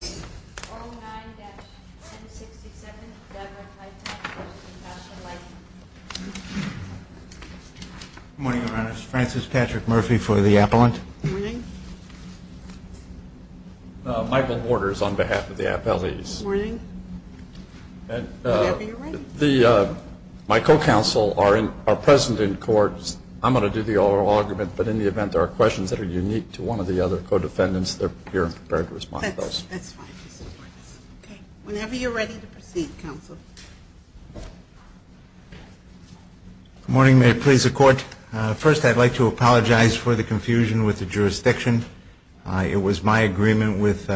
Good morning, Your Honor. This is Francis Patrick Murphy for the appellant. Good morning. Michael Borders on behalf of the appellees. Good morning. My co-counsel are present in court. I'm going to do the oral argument, but in the event there are questions that are unique to one of the other co-defendants, you're prepared to respond to those. That's fine, Mr. Borders. Whenever you're ready to proceed, counsel. Good morning. May it please the Court. First, I'd like to apologize for the confusion with the jurisdiction. It was my agreement with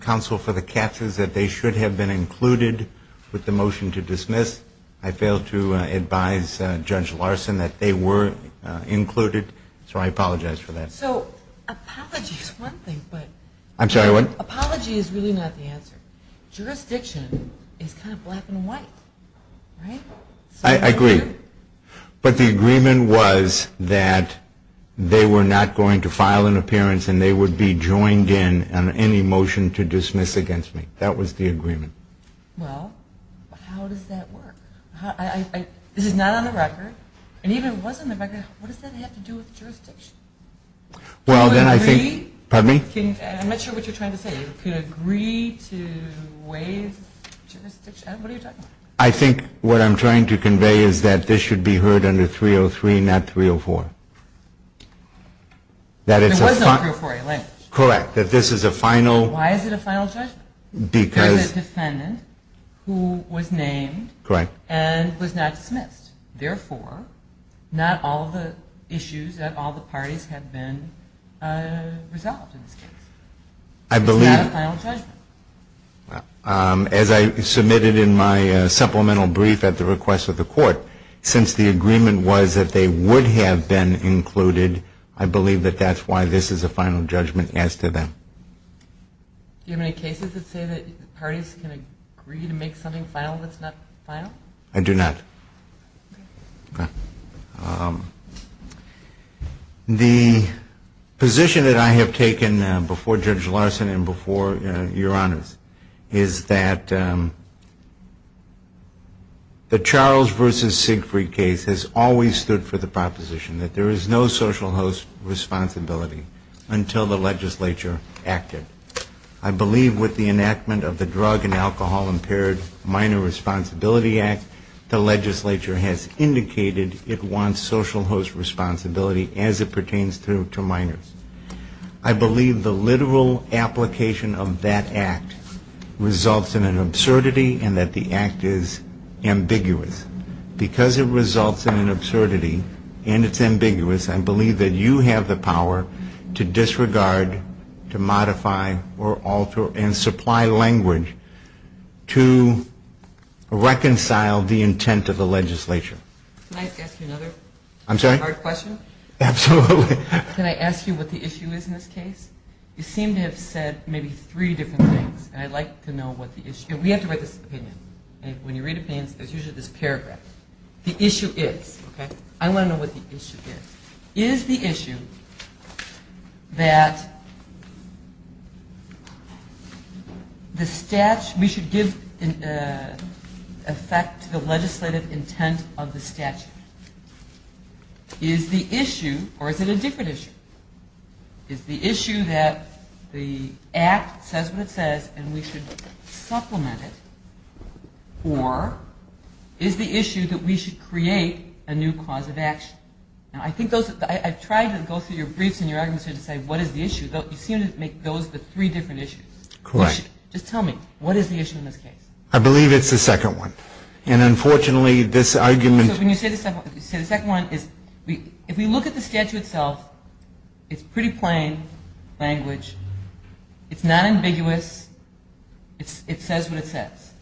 counsel for the capses that they should have been included with the motion to dismiss. I failed to advise Judge Larson that they were included, so I apologize for that. So, apology is one thing, but... I'm sorry, what? Apology is really not the answer. Jurisdiction is kind of black and white, right? I agree. But the agreement was that they were not going to file an appearance and they would be joined in on any motion to dismiss against me. That was the agreement. Well, how does that work? This is not on the record, and even if it was on the record, what does that have to do with jurisdiction? Well, then I think... Can you agree? Pardon me? I'm not sure what you're trying to say. Can you agree to waive jurisdiction? What are you talking about? I think what I'm trying to convey is that this should be heard under 303, not 304. There was no 304A language. Correct, that this is a final... Why is it a final judgment? Because... Who was named... Correct. And was not dismissed. Therefore, not all the issues at all the parties have been resolved in this case. I believe... It's not a final judgment. As I submitted in my supplemental brief at the request of the court, since the agreement was that they would have been included, I believe that that's why this is a final judgment as to them. Do you have any cases that say that parties can agree to make something final that's not final? I do not. The position that I have taken before Judge Larson and before Your Honors is that the Charles v. Siegfried case has always stood for the proposition that there is no social host responsibility until the legislature acted. I believe with the enactment of the Drug and Alcohol Impaired Minor Responsibility Act, the legislature has indicated it wants social host responsibility as it pertains to minors. I believe the literal application of that act results in an absurdity and that the act is ambiguous. Because it results in an absurdity and it's ambiguous, I believe that you have the power to disregard, to modify, or alter and supply language to reconcile the intent of the legislature. Can I ask you another hard question? Absolutely. Can I ask you what the issue is in this case? You seem to have said maybe three different things. And I'd like to know what the issue is. We have to write this opinion. When you read opinions, there's usually this paragraph. The issue is. I want to know what the issue is. Is the issue that we should give effect to the legislative intent of the statute? Is the issue, or is it a different issue? Is the issue that the act says what it says and we should supplement it? Or is the issue that we should create a new cause of action? Now, I've tried to go through your briefs and your arguments here to say what is the issue. You seem to make those the three different issues. Correct. Just tell me, what is the issue in this case? I believe it's the second one. And, unfortunately, this argument. So when you say the second one, if we look at the statute itself, it's pretty plain language. It's not ambiguous. It says what it says.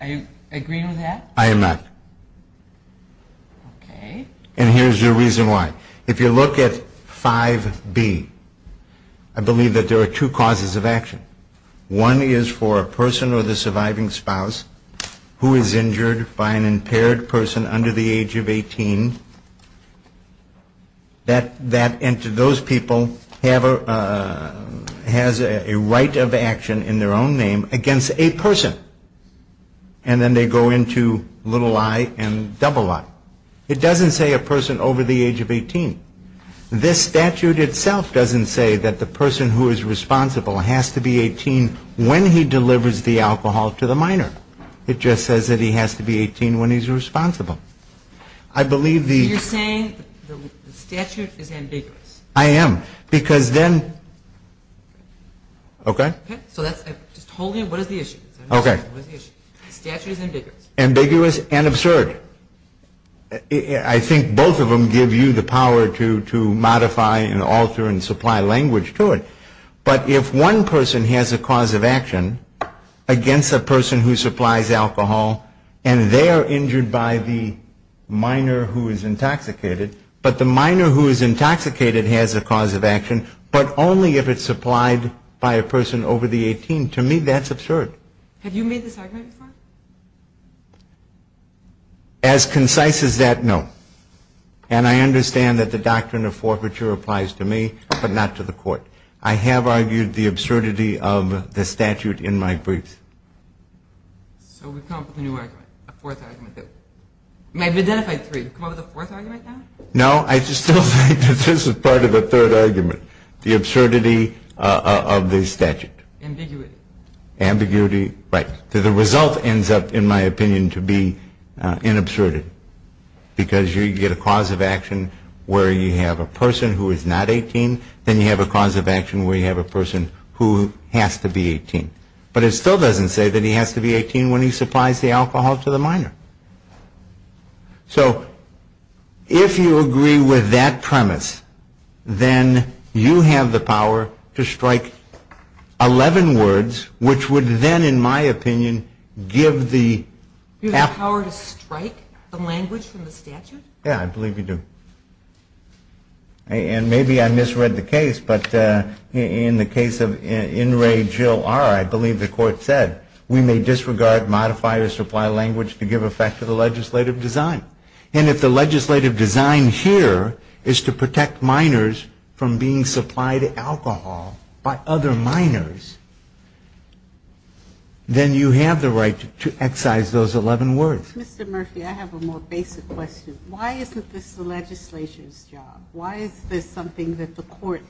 Are you agreeing with that? I am not. Okay. And here's your reason why. If you look at 5B, I believe that there are two causes of action. One is for a person or the surviving spouse who is injured by an impaired person under the age of 18, that those people have a right of action in their own name against a person. And then they go into little I and double I. It doesn't say a person over the age of 18. This statute itself doesn't say that the person who is responsible has to be 18 when he delivers the alcohol to the minor. It just says that he has to be 18 when he's responsible. I believe the ‑‑ So you're saying the statute is ambiguous. I am. Because then ‑‑ okay? Okay. So that's ‑‑ just hold it. What is the issue? Okay. The statute is ambiguous. Ambiguous and absurd. I think both of them give you the power to modify and alter and supply language to it. But if one person has a cause of action against a person who supplies alcohol and they are injured by the minor who is intoxicated, but the minor who is intoxicated has a cause of action, but only if it's supplied by a person over the 18, to me that's absurd. Have you made this argument before? As concise as that, no. And I understand that the doctrine of forfeiture applies to me, but not to the court. I have argued the absurdity of the statute in my briefs. So we've come up with a new argument, a fourth argument. We've identified three. We've come up with a fourth argument now? No, I just don't think that this is part of the third argument, the absurdity of the statute. Ambiguity. Ambiguity. Right. The result ends up, in my opinion, to be inabsurd. Because you get a cause of action where you have a person who is not 18, then you have a cause of action where you have a person who has to be 18. But it still doesn't say that he has to be 18 when he supplies the alcohol to the minor. So if you agree with that premise, then you have the power to strike 11 words, which would then, in my opinion, give the act. You have the power to strike the language from the statute? Yeah, I believe you do. And maybe I misread the case, but in the case of In Re Jill Arr, I believe the court said, we may disregard, modify, or supply language to give effect to the legislative design. And if the legislative design here is to protect minors from being supplied alcohol by other minors, then you have the right to excise those 11 words. Mr. Murphy, I have a more basic question. Why isn't this the legislature's job? Why is this something that the court,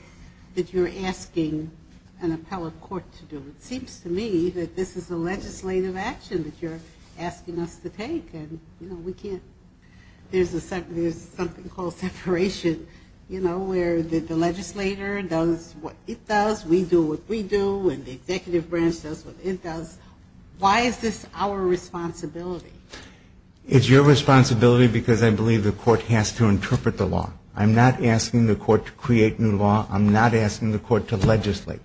that you're asking an appellate court to do? It seems to me that this is a legislative action that you're asking us to take. And, you know, we can't, there's something called separation, you know, where the legislator does what it does, we do what we do, and the executive branch does what it does. Why is this our responsibility? It's your responsibility because I believe the court has to interpret the law. I'm not asking the court to create new law. I'm not asking the court to legislate.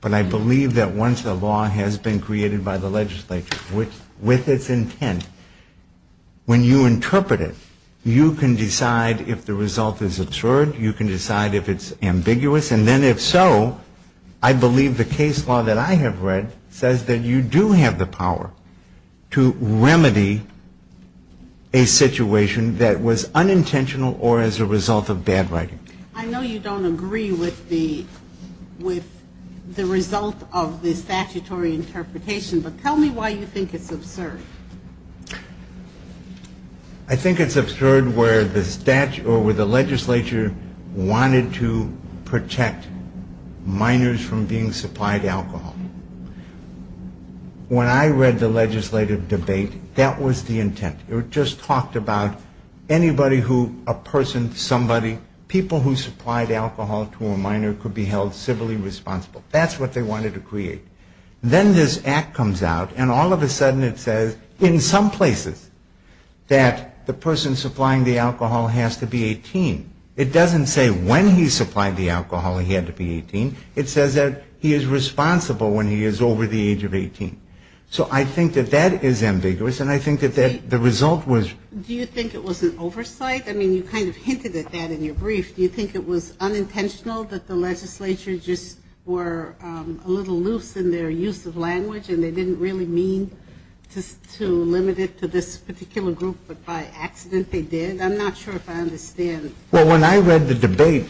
But I believe that once the law has been created by the legislature with its intent, when you interpret it, you can decide if the result is absurd, you can decide if it's ambiguous, and then if so, I believe the case law that I have read says that you do have the power to remedy a situation that was unintentional or as a result of bad writing. I know you don't agree with the result of the statutory interpretation, but tell me why you think it's absurd. I think it's absurd where the legislature wanted to protect minors from being supplied alcohol. When I read the legislative debate, that was the intent. It just talked about anybody who, a person, somebody, people who supplied alcohol to a minor could be held civilly responsible. That's what they wanted to create. Then this act comes out, and all of a sudden it says in some places that the person supplying the alcohol has to be 18. It doesn't say when he supplied the alcohol he had to be 18. It says that he is responsible when he is over the age of 18. So I think that that is ambiguous, and I think that the result was. Do you think it was an oversight? I mean, you kind of hinted at that in your brief. Do you think it was unintentional that the legislature just were a little loose in their use of language and they didn't really mean to limit it to this particular group, but by accident they did? I'm not sure if I understand. Well, when I read the debate,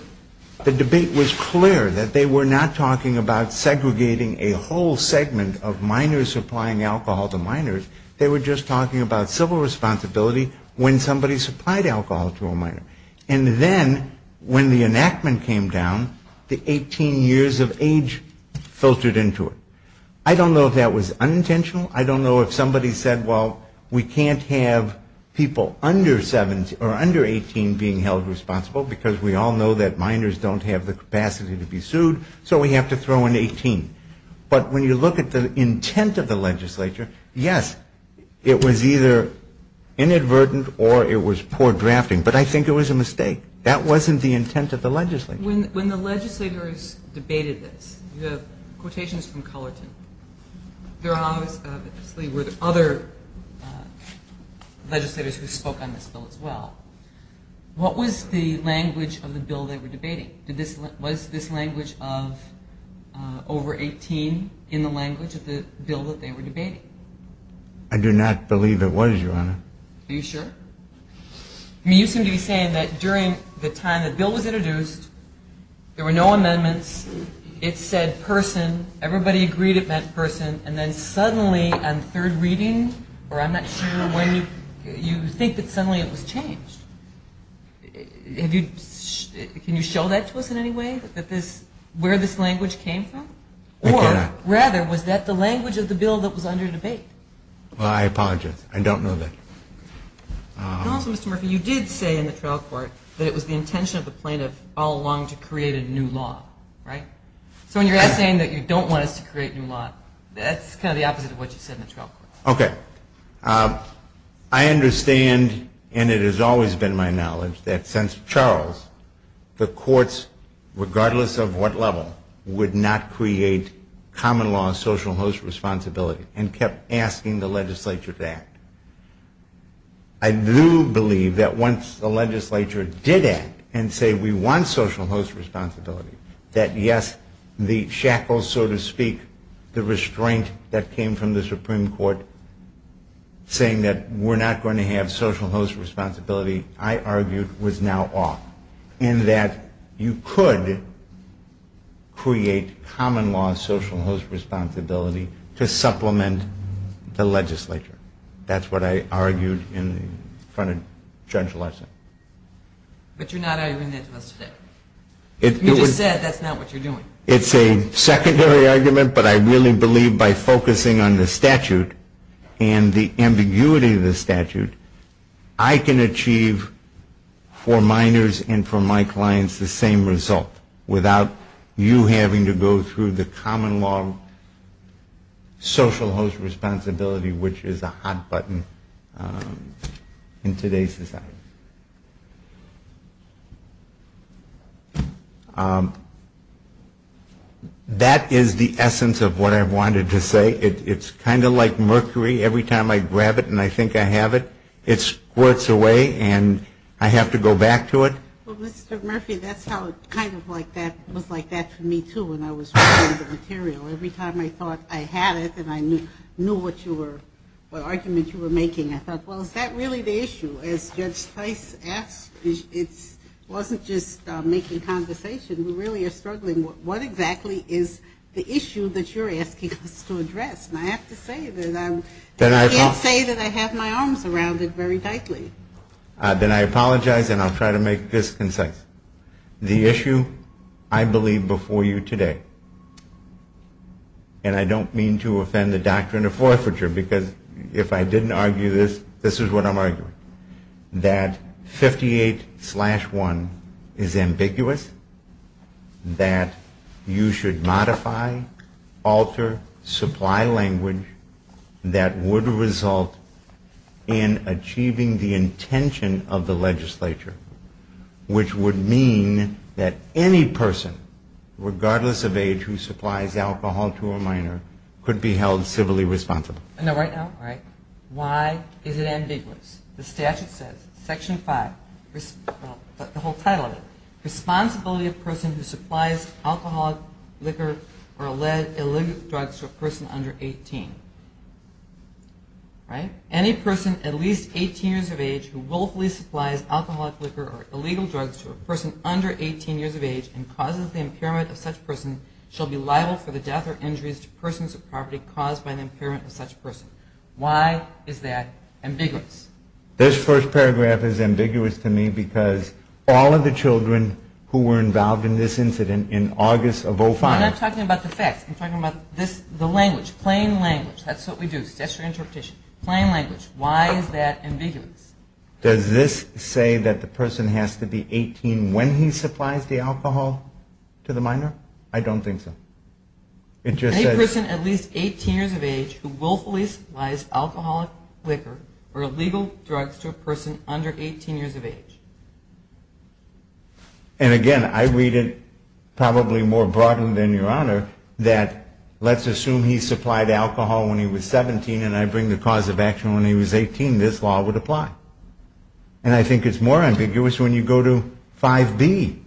the debate was clear, that they were not talking about segregating a whole segment of minors supplying alcohol to minors. They were just talking about civil responsibility when somebody supplied alcohol to a minor. And then when the enactment came down, the 18 years of age filtered into it. I don't know if that was unintentional. I don't know if somebody said, well, we can't have people under 18 being held responsible because we all know that minors don't have the capacity to be sued, so we have to throw in 18. But when you look at the intent of the legislature, yes, it was either inadvertent or it was poor drafting. But I think it was a mistake. That wasn't the intent of the legislature. When the legislators debated this, you have quotations from Cullerton. There obviously were other legislators who spoke on this bill as well. What was the language of the bill they were debating? Was this language of over 18 in the language of the bill that they were debating? I do not believe it was, Your Honor. Are you sure? I mean, you seem to be saying that during the time the bill was introduced, there were no amendments. It said person. Everybody agreed it meant person. And then suddenly on third reading, or I'm not sure when, you think that suddenly it was changed. Can you show that to us in any way, where this language came from? I cannot. Or rather, was that the language of the bill that was under debate? Well, I apologize. I don't know that. Also, Mr. Murphy, you did say in the trial court that it was the intention of the plaintiff all along to create a new law, right? So when you're saying that you don't want us to create a new law, that's kind of the opposite of what you said in the trial court. Okay. I understand, and it has always been my knowledge, that since Charles, the courts, regardless of what level, would not create common law and social host responsibility and kept asking the legislature to act. I do believe that once the legislature did act and say we want social host responsibility, that yes, the shackles, so to speak, the restraint that came from the Supreme Court saying that we're not going to have social host responsibility, I argued, was now off. And that you could create common law and social host responsibility to supplement the legislature. That's what I argued in front of Judge Larson. But you're not arguing that to us today. You just said that's not what you're doing. It's a secondary argument, but I really believe by focusing on the statute and the ambiguity of the statute, I can achieve for minors and for my clients the same result without you having to go through the common law social host responsibility, which is a hot button in today's society. That is the essence of what I wanted to say. It's kind of like mercury, every time I grab it and I think I have it, it squirts away and I have to go back to it. Well, Mr. Murphy, that's how it kind of like that was like that for me, too, when I was reading the material. Every time I thought I had it and I knew what you were, what argument you were making, I thought, well, is that really the issue? As Judge Tice asked, it wasn't just making conversation, we really are struggling. What exactly is the issue that you're asking us to address? And I have to say that I can't say that I have my arms around it very tightly. Then I apologize and I'll try to make this concise. The issue I believe before you today, and I don't mean to offend the doctrine of forfeiture, because if I didn't argue this, this is what I'm arguing. That 58-1 is ambiguous, that you should modify, alter, supply language that would result in achieving the intention of the legislature, which would mean that any person, regardless of age who supplies alcohol to a minor, could be held civilly responsible. Now, right now, why is it ambiguous? The statute says, Section 5, the whole title of it, Responsibility of Person Who Supplies Alcohol, Liquor, or Illegal Drugs to a Person Under 18. Any person at least 18 years of age who willfully supplies alcohol, liquor, or illegal drugs to a person under 18 years of age and causes the impairment of such person shall be liable for the death or injuries to persons of property caused by the impairment of such person. Why is that ambiguous? This first paragraph is ambiguous to me because all of the children who were involved in this incident in August of 05... I'm not talking about the facts. I'm talking about the language, plain language. That's what we do, statutory interpretation. Plain language. Why is that ambiguous? I don't think so. And, again, I read it probably more broadly than your Honor that let's assume he supplied alcohol when he was 17 and I bring the cause of action when he was 18. This law would apply. And I think it's more ambiguous when you go to 5B,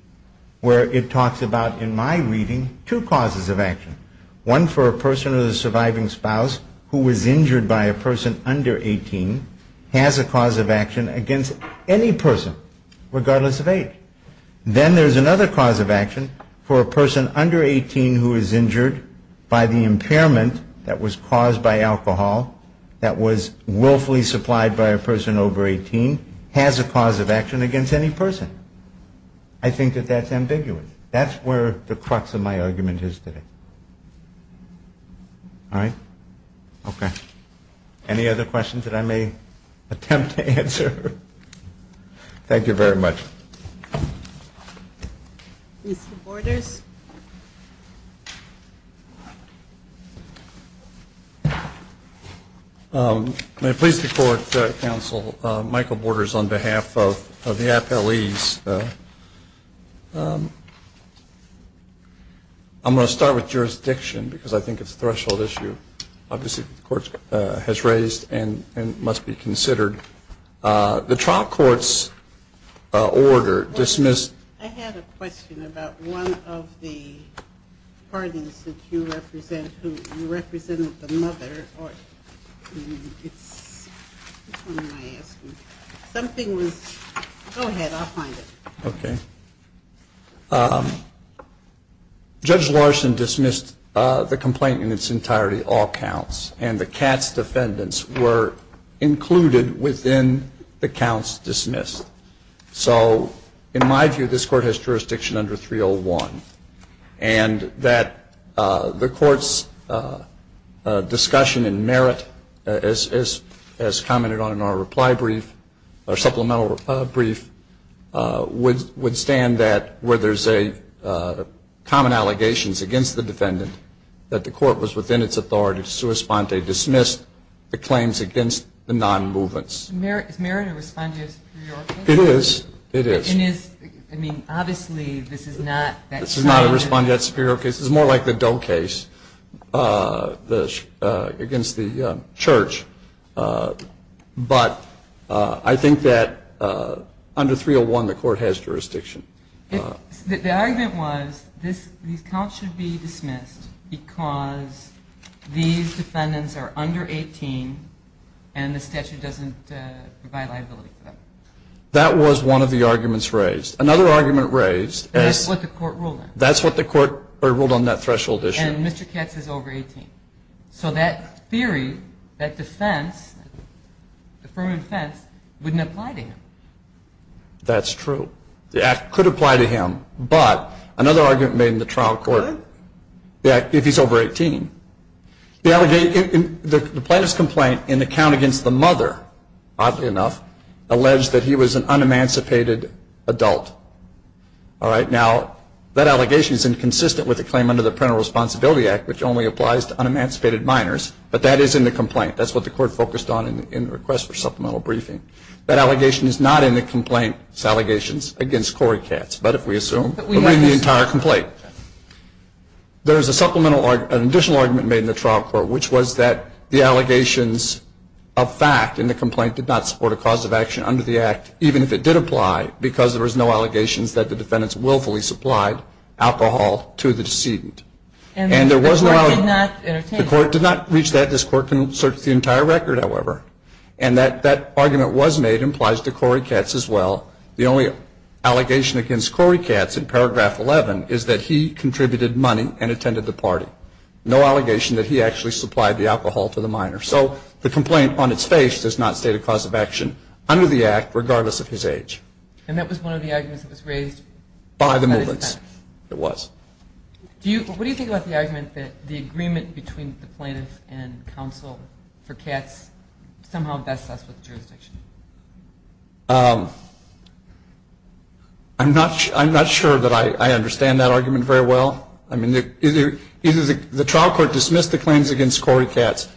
where it says, it talks about, in my reading, two causes of action. One for a person who is a surviving spouse who was injured by a person under 18 has a cause of action against any person, regardless of age. Then there's another cause of action for a person under 18 who is injured by the impairment that was caused by alcohol that was willfully supplied by a person over 18 has a cause of action against any person. I think that that's ambiguous. That's where the crux of my argument is today. All right? Okay. Any other questions that I may attempt to answer? Thank you very much. Mr. Borders. May it please the Court, Counsel, Michael Borders on behalf of the Appellees. I'm going to start with jurisdiction because I think it's a threshold issue, obviously, that the Court has raised and must be considered. The trial court's order dismissed... I had a question about one of the parties that you represent, who represented the mother. Which one am I asking? Go ahead. I'll find it. Okay. Judge Larson dismissed the complaint in its entirety, all counts, and the Katz defendants were included within the counts dismissed. So in my view, this Court has jurisdiction under 301, and that the Court's discussion and merit, as commented on in our reply brief, our supplemental brief, would stand that where there's a common allegations against the defendant, that the Court was within its authority to sui sponte, dismissed the claims against the non-movements. Is merit a respondeat superior case? It is. It is. I mean, obviously, this is not... This is not a respondeat superior case. This is more like the Dole case against the church. But I think that under 301, the Court has jurisdiction. The argument was these counts should be dismissed because these defendants are under 18, and the statute doesn't provide liability for them. That was one of the arguments raised. Another argument raised... That's what the Court ruled on. That's what the Court ruled on that threshold issue. And Mr. Katz is over 18. So that theory, that defense, the affirmative defense, wouldn't apply to him. That's true. The act could apply to him. But another argument made in the trial court, if he's over 18... The plaintiff's complaint in the count against the mother, oddly enough, alleged that he was an un-emancipated adult. Now, that allegation is inconsistent with the claim under the Parental Responsibility Act, which only applies to un-emancipated minors. But that is in the complaint. That's what the Court focused on in the request for supplemental briefing. That allegation is not in the complaint. It's allegations against Corey Katz. There is an additional argument made in the trial court, which was that the allegations of fact in the complaint did not support a cause of action under the act, even if it did apply, because there was no allegations that the defendants willfully supplied alcohol to the decedent. The Court did not reach that. This Court can search the entire record, however. And that argument was made, implies to Corey Katz as well. The only allegation against Corey Katz in paragraph 11 is that he contributed money and attended the party. No allegation that he actually supplied the alcohol to the minor. So the complaint, on its face, does not state a cause of action under the act, regardless of his age. And that was one of the arguments that was raised by the defendants? It was. What do you think about the argument that the agreement between the plaintiff and counsel for Katz somehow best sets with the jurisdiction? I'm not sure that I understand that argument very well. Well, I mean, either the trial court dismissed the claims against Corey Katz,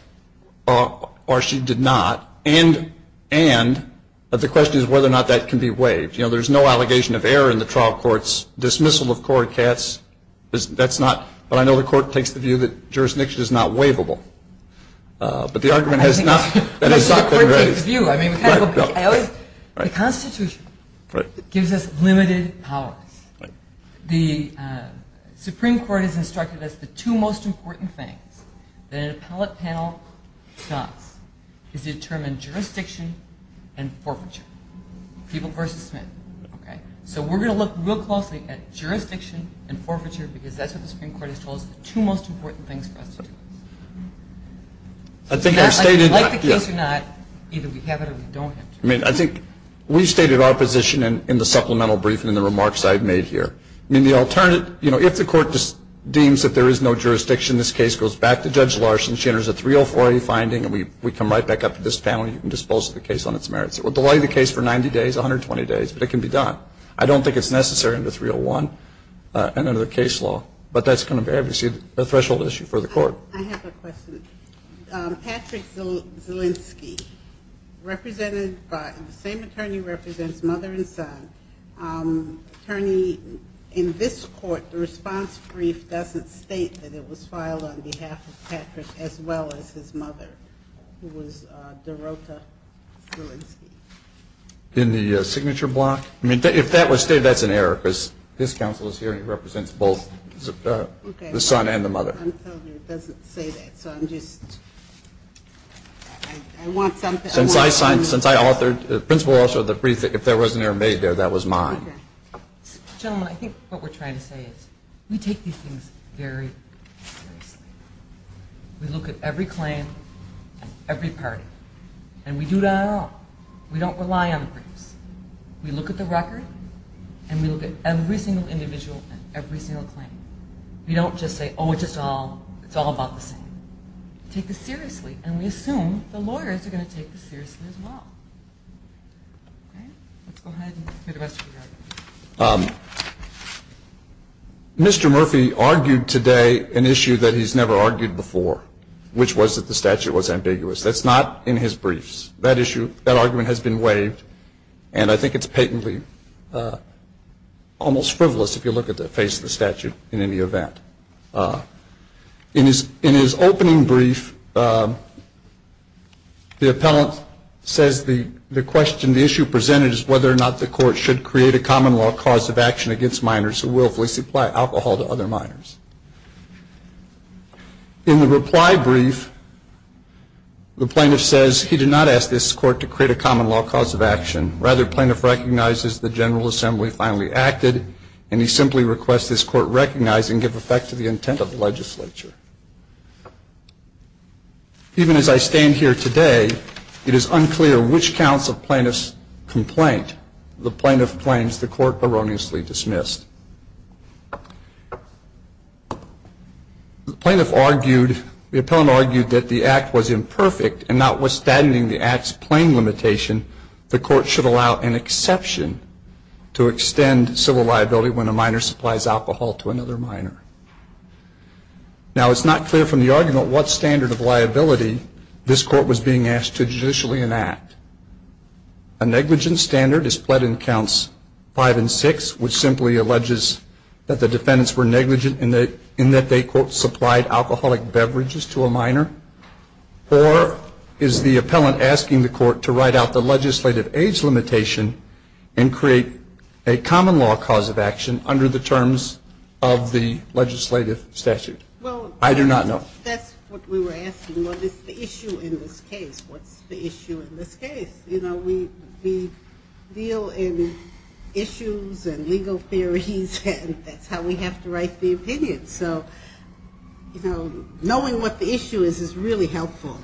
or she did not, and the question is whether or not that can be waived. You know, there's no allegation of error in the trial court's dismissal of Corey Katz. That's not – but I know the Court takes the view that jurisdiction is not waivable. But the argument has not been raised. The Constitution gives us limited powers. The Supreme Court has instructed us that the two most important things that an appellate panel does is determine jurisdiction and forfeiture, people versus Smith. So we're going to look real closely at jurisdiction and forfeiture, because that's what the Supreme Court has told us are the two most important things for us to do. I think I've stated – Like the case or not, either we have it or we don't have it. I mean, I think we've stated our position in the supplemental briefing and the remarks I've made here. I mean, the alternative – you know, if the Court deems that there is no jurisdiction, this case goes back to Judge Larson. She enters a 304A finding, and we come right back up to this panel, and you can dispose of the case on its merits. It will delay the case for 90 days, 120 days, but it can be done. I don't think it's necessary under 301 and under the case law, but that's going to be, obviously, a threshold issue for the Court. I have a question. Patrick Zielinski, represented by – the same attorney who represents mother and son. Attorney, in this Court, the response brief doesn't state that it was filed on behalf of Patrick as well as his mother, who was Dorota Zielinski. In the signature block? I mean, if that was stated, that's an error, because his counsel is here, and he represents both the son and the mother. I'm told it doesn't say that, so I'm just – I want something – Since I signed – since I authored – the principle also of the brief, if there was an error made there, that was mine. Gentlemen, I think what we're trying to say is we take these things very seriously. We look at every claim and every party, and we do that on our own. We don't rely on the briefs. We look at the record, and we look at every single individual and every single claim. We don't just say, oh, it's all about the same. We take this seriously, and we assume the lawyers are going to take this seriously as well. Okay? Let's go ahead and do the rest of the argument. Mr. Murphy argued today an issue that he's never argued before, which was that the statute was ambiguous. That's not in his briefs. That issue – that argument has been waived, and I think it's patently almost frivolous if you look at the face of the statute in any event. In his opening brief, the appellant says the question – the issue presented is whether or not the court should create a common law cause of action against minors who willfully supply alcohol to other minors. In the reply brief, the plaintiff says he did not ask this court to create a common law cause of action. Rather, the plaintiff recognizes the General Assembly finally acted, and he simply requests this court recognize and give effect to the intent of the legislature. Even as I stand here today, it is unclear which counts of plaintiff's complaint the plaintiff claims the court erroneously dismissed. The plaintiff argued – the appellant argued that the act was imperfect and notwithstanding the act's plain limitation, the court should allow an exception to extend civil liability when a minor supplies alcohol to another minor. Now, it's not clear from the argument what standard of liability this court was being asked to judicially enact. A negligence standard is pled in counts 5 and 6, which simply alleges that the defendants were negligent in that they, quote, supplied alcoholic beverages to a minor? Or is the appellant asking the court to write out the legislative age limitation and create a common law cause of action under the terms of the legislative statute? I do not know. Well, that's what we were asking. What is the issue in this case? What's the issue in this case? You know, we deal in issues and legal theories, and that's how we have to write the opinion. So, you know, knowing what the issue is is really helpful.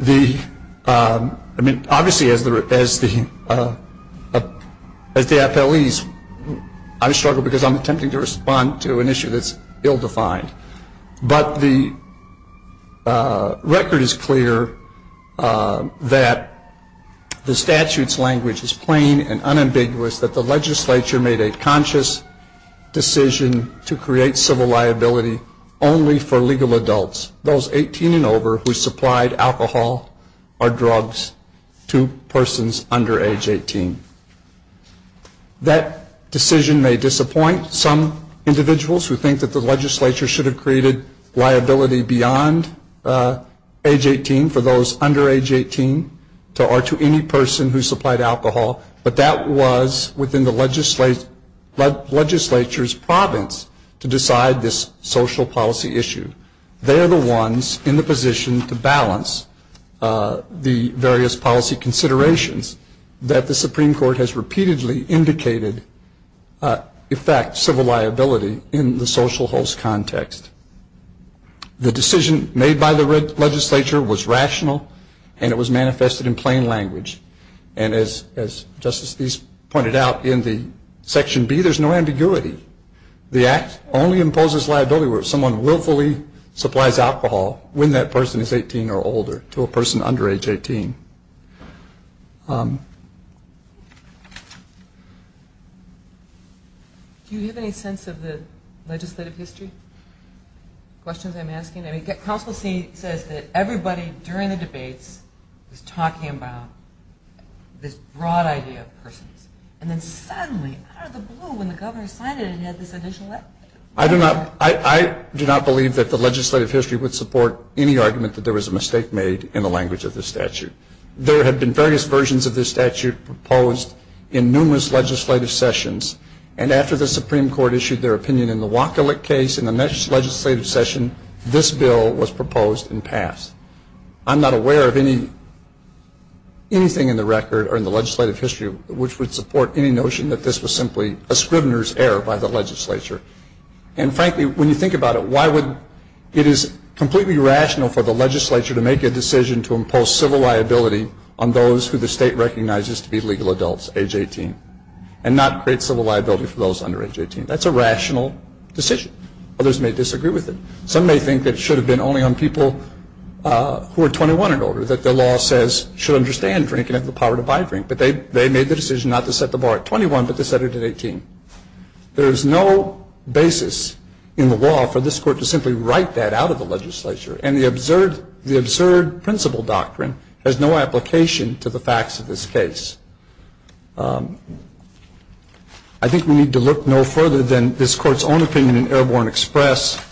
The – I mean, obviously, as the appellees, I struggle because I'm attempting to respond to an issue that's ill-defined. But the record is clear that the statute's language is plain and unambiguous that the legislature made a conscious decision to create civil liability only for legal adults, those 18 and over who supplied alcohol or drugs to persons under age 18. That decision may disappoint some individuals who think that the legislature should have created liability beyond age 18 for those under age 18 or to any person who supplied alcohol, but that was within the legislature's province to decide this social policy issue. They are the ones in the position to balance the various policy considerations that the Supreme Court has repeatedly indicated affect civil liability in the social host context. The decision made by the legislature was rational, and it was manifested in plain language. And as Justice East pointed out in the section B, there's no ambiguity. The act only imposes liability where someone willfully supplies alcohol when that person is 18 or older to a person under age 18. Do you have any sense of the legislative history? Questions I'm asking? I mean, counsel says that everybody during the debates was talking about this broad idea of persons, and then suddenly, out of the blue, when the governor signed it, it had this additional effect. I do not believe that the legislative history would support any argument that there was a mistake made in the language of this statute. There have been various versions of this statute proposed in numerous legislative sessions, and after the Supreme Court issued their opinion in the Wacolik case in the next legislative session, this bill was proposed and passed. I'm not aware of anything in the record or in the legislative history which would support any notion that this was simply a scrivener's error by the legislature. And frankly, when you think about it, why would it is completely rational for the legislature to make a decision to impose civil liability on those who the state recognizes to be legal adults age 18 and not create civil liability for those under age 18? That's a rational decision. Others may disagree with it. Some may think that it should have been only on people who are 21 and older, that the law says should understand drinking and have the power to buy drink, but they made the decision not to set the bar at 21 but to set it at 18. There is no basis in the law for this Court to simply write that out of the legislature, and the absurd principle doctrine has no application to the facts of this case. I think we need to look no further than this Court's own opinion in Airborne Express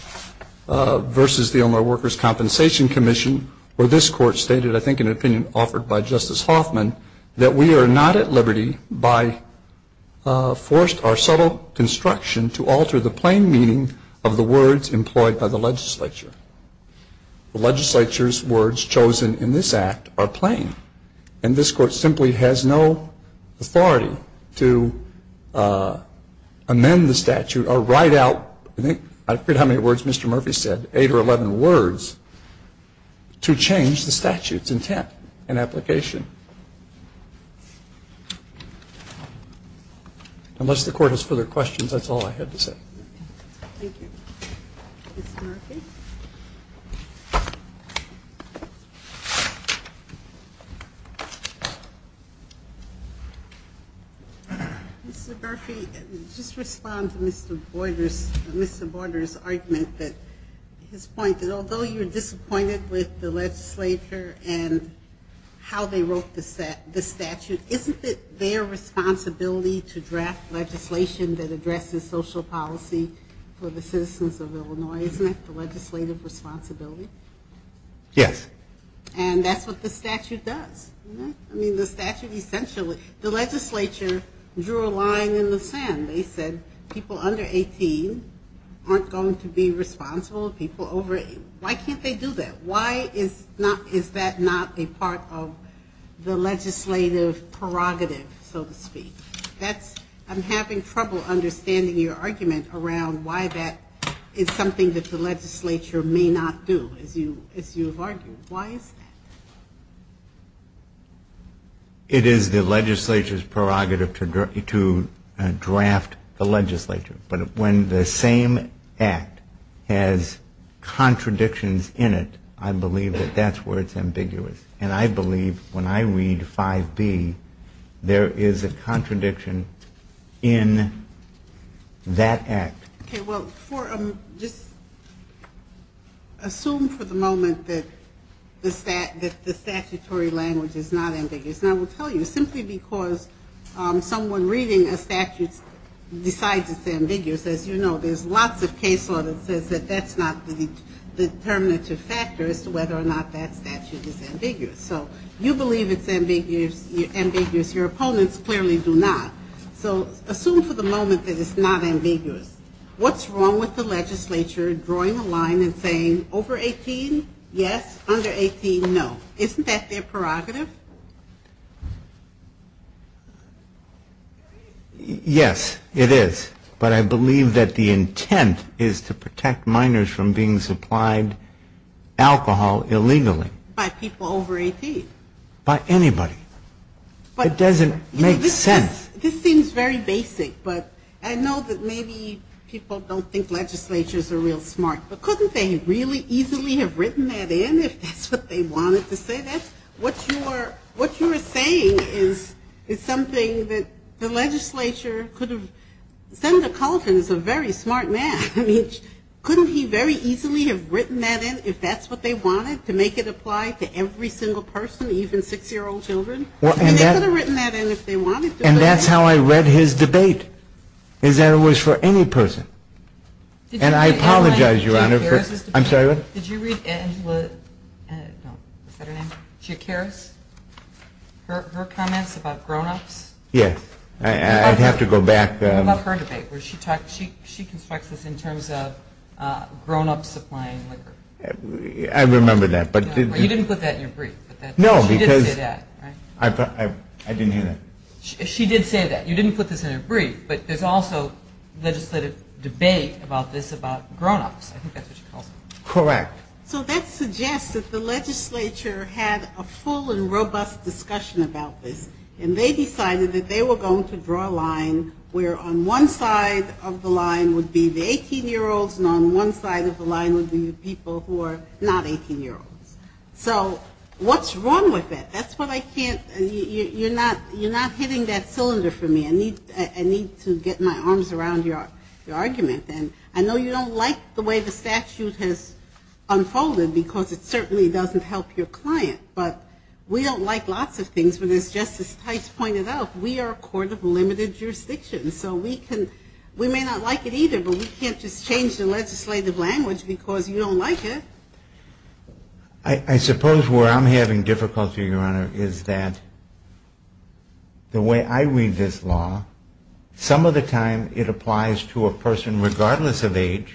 versus the Illinois Workers' Compensation Commission, where this Court stated, I think in an opinion offered by Justice Hoffman, that we are not at liberty by forced or subtle construction to alter the plain meaning of the words employed by the legislature. The legislature's words chosen in this Act are plain, and this Court simply has no authority to amend the statute or write out, I forget how many words Mr. Murphy said, eight or 11 words, to change the statute's intent and application. Unless the Court has further questions, that's all I had to say. Thank you. Ms. Murphy? Ms. Murphy, just to respond to Mr. Borders' argument, his point that although you're disappointed with the legislature and how they wrote the statute, isn't it their responsibility to draft legislation that addresses social policy for the citizens of Illinois, isn't it? The legislature's responsibility. Yes. And that's what the statute does. I mean, the statute essentially, the legislature drew a line in the sand. They said people under 18 aren't going to be responsible. Why can't they do that? Why is that not a part of the legislative prerogative, so to speak? I'm having trouble understanding your argument around why that is something that the legislature may not do, as you've argued. Why is that? It is the legislature's prerogative to draft the legislature. But when the same act has contradictions in it, I believe that that's where it's ambiguous. And I believe when I read 5B, there is a contradiction in that act. Okay, well, just assume for the moment that the statutory language is not ambiguous. And I will tell you, simply because someone reading a statute decides it's ambiguous, as you know, there's lots of case law that says that that's not the determinative factor as to whether or not that statute is ambiguous. So you believe it's ambiguous. Your opponents clearly do not. So assume for the moment that it's not ambiguous. What's wrong with the legislature drawing a line and saying over 18, yes, under 18, no? Isn't that their prerogative? Yes, it is. But I believe that the intent is to protect minors from being supplied alcohol illegally. By people over 18. By anybody. It doesn't make sense. This seems very basic. But I know that maybe people don't think legislatures are real smart. But couldn't they really easily have written that in if that's what they wanted to say? What you are saying is something that the legislature could have sent a cult and is a very smart man. Couldn't he very easily have written that in if that's what they wanted, to make it apply to every single person, even six-year-old children? And they could have written that in if they wanted to. And that's how I read his debate, is that it was for any person. And I apologize, Your Honor. I'm sorry, what? Did you read Angela, no, is that her name? Jake Harris? Her comments about grownups? Yes. I'd have to go back. What about her debate? She constructs this in terms of grownups supplying liquor. I remember that. You didn't put that in your brief. No, because I didn't hear that. She did say that. You didn't put this in your brief. But there's also legislative debate about this about grownups. I think that's what she calls them. Correct. So that suggests that the legislature had a full and robust discussion about this. And they decided that they were going to draw a line where on one side of the line would be the 18-year-olds and on one side of the line would be the people who are not 18-year-olds. So what's wrong with it? That's what I can't you're not hitting that cylinder for me. I need to get my arms around your argument. And I know you don't like the way the statute has unfolded because it certainly doesn't help your client. But we don't like lots of things. But as Justice Tice pointed out, we are a court of limited jurisdiction. So we may not like it either, but we can't just change the legislative language because you don't like it. I suppose where I'm having difficulty, Your Honor, is that the way I read this law, some of the time it applies to a person regardless of age,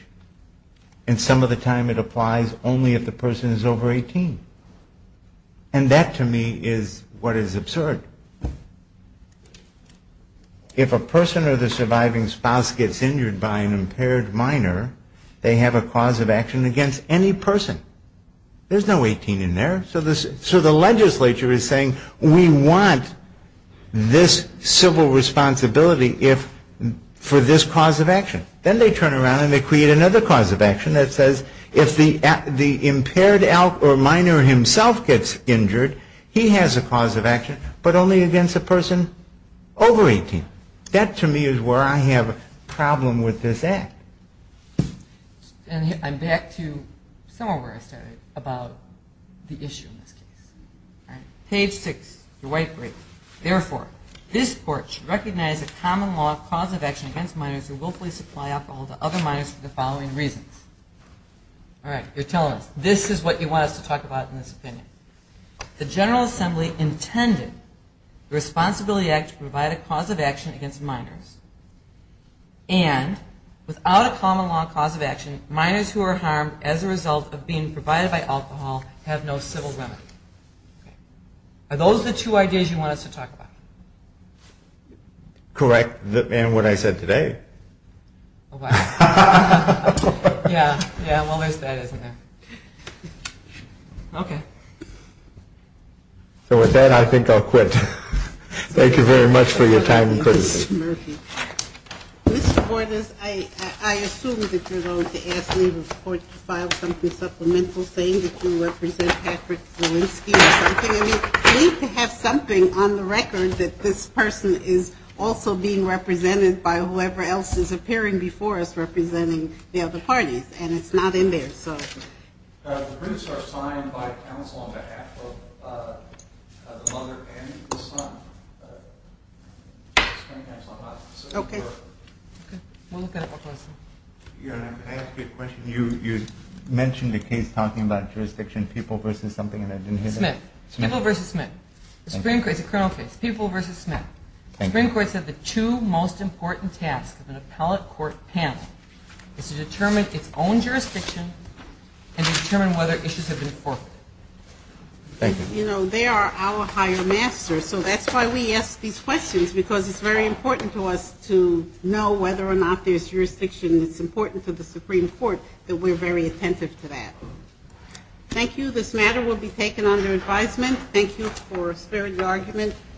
and some of the time it applies only if the person is over 18. And that to me is what is absurd. If a person or the surviving spouse gets injured by an impaired minor, they have a cause of action against any person. There's no 18 in there. So the legislature is saying we want this civil responsibility for this cause of action. Then they turn around and they create another cause of action that says if the impaired minor himself gets injured, he has a cause of action. But only against a person over 18. That to me is where I have a problem with this Act. And I'm back to somewhere where I started about the issue in this case. Page 6, the white brief. Therefore, this Court should recognize a common law of cause of action against minors who willfully supply alcohol to other minors for the following reasons. All right, you're telling us. This is what you want us to talk about in this opinion. The General Assembly intended the Responsibility Act to provide a cause of action against minors. And without a common law of cause of action, minors who are harmed as a result of being provided by alcohol have no civil remedy. Are those the two ideas you want us to talk about? Correct. And what I said today. Yeah, well, there's that, isn't there? Okay. So with that, I think I'll quit. Thank you very much for your time and courtesy. Mr. Murphy. Mr. Bordas, I assume that you're going to ask me to file something supplemental saying that you represent Patrick Zielinski or something. We have something on the record that this person is also being represented by whoever else is appearing before us representing the other parties. And it's not in there, so. The briefs are signed by counsel on behalf of the mother and the son. Okay. We'll look at it one more time. Your Honor, can I ask you a question? You mentioned a case talking about jurisdiction people versus something, and I didn't hear that. People versus Smith. People versus Smith. The Supreme Court is a criminal case. People versus Smith. The Supreme Court said the two most important tasks of an appellate court panel is to determine its own jurisdiction and to determine whether issues have been forfeited. Thank you. You know, they are our higher masters, so that's why we ask these questions, because it's very important to us to know whether or not there's jurisdiction. It's important to the Supreme Court that we're very attentive to that. Thank you. This matter will be taken under advisement. Thank you for sparing the argument.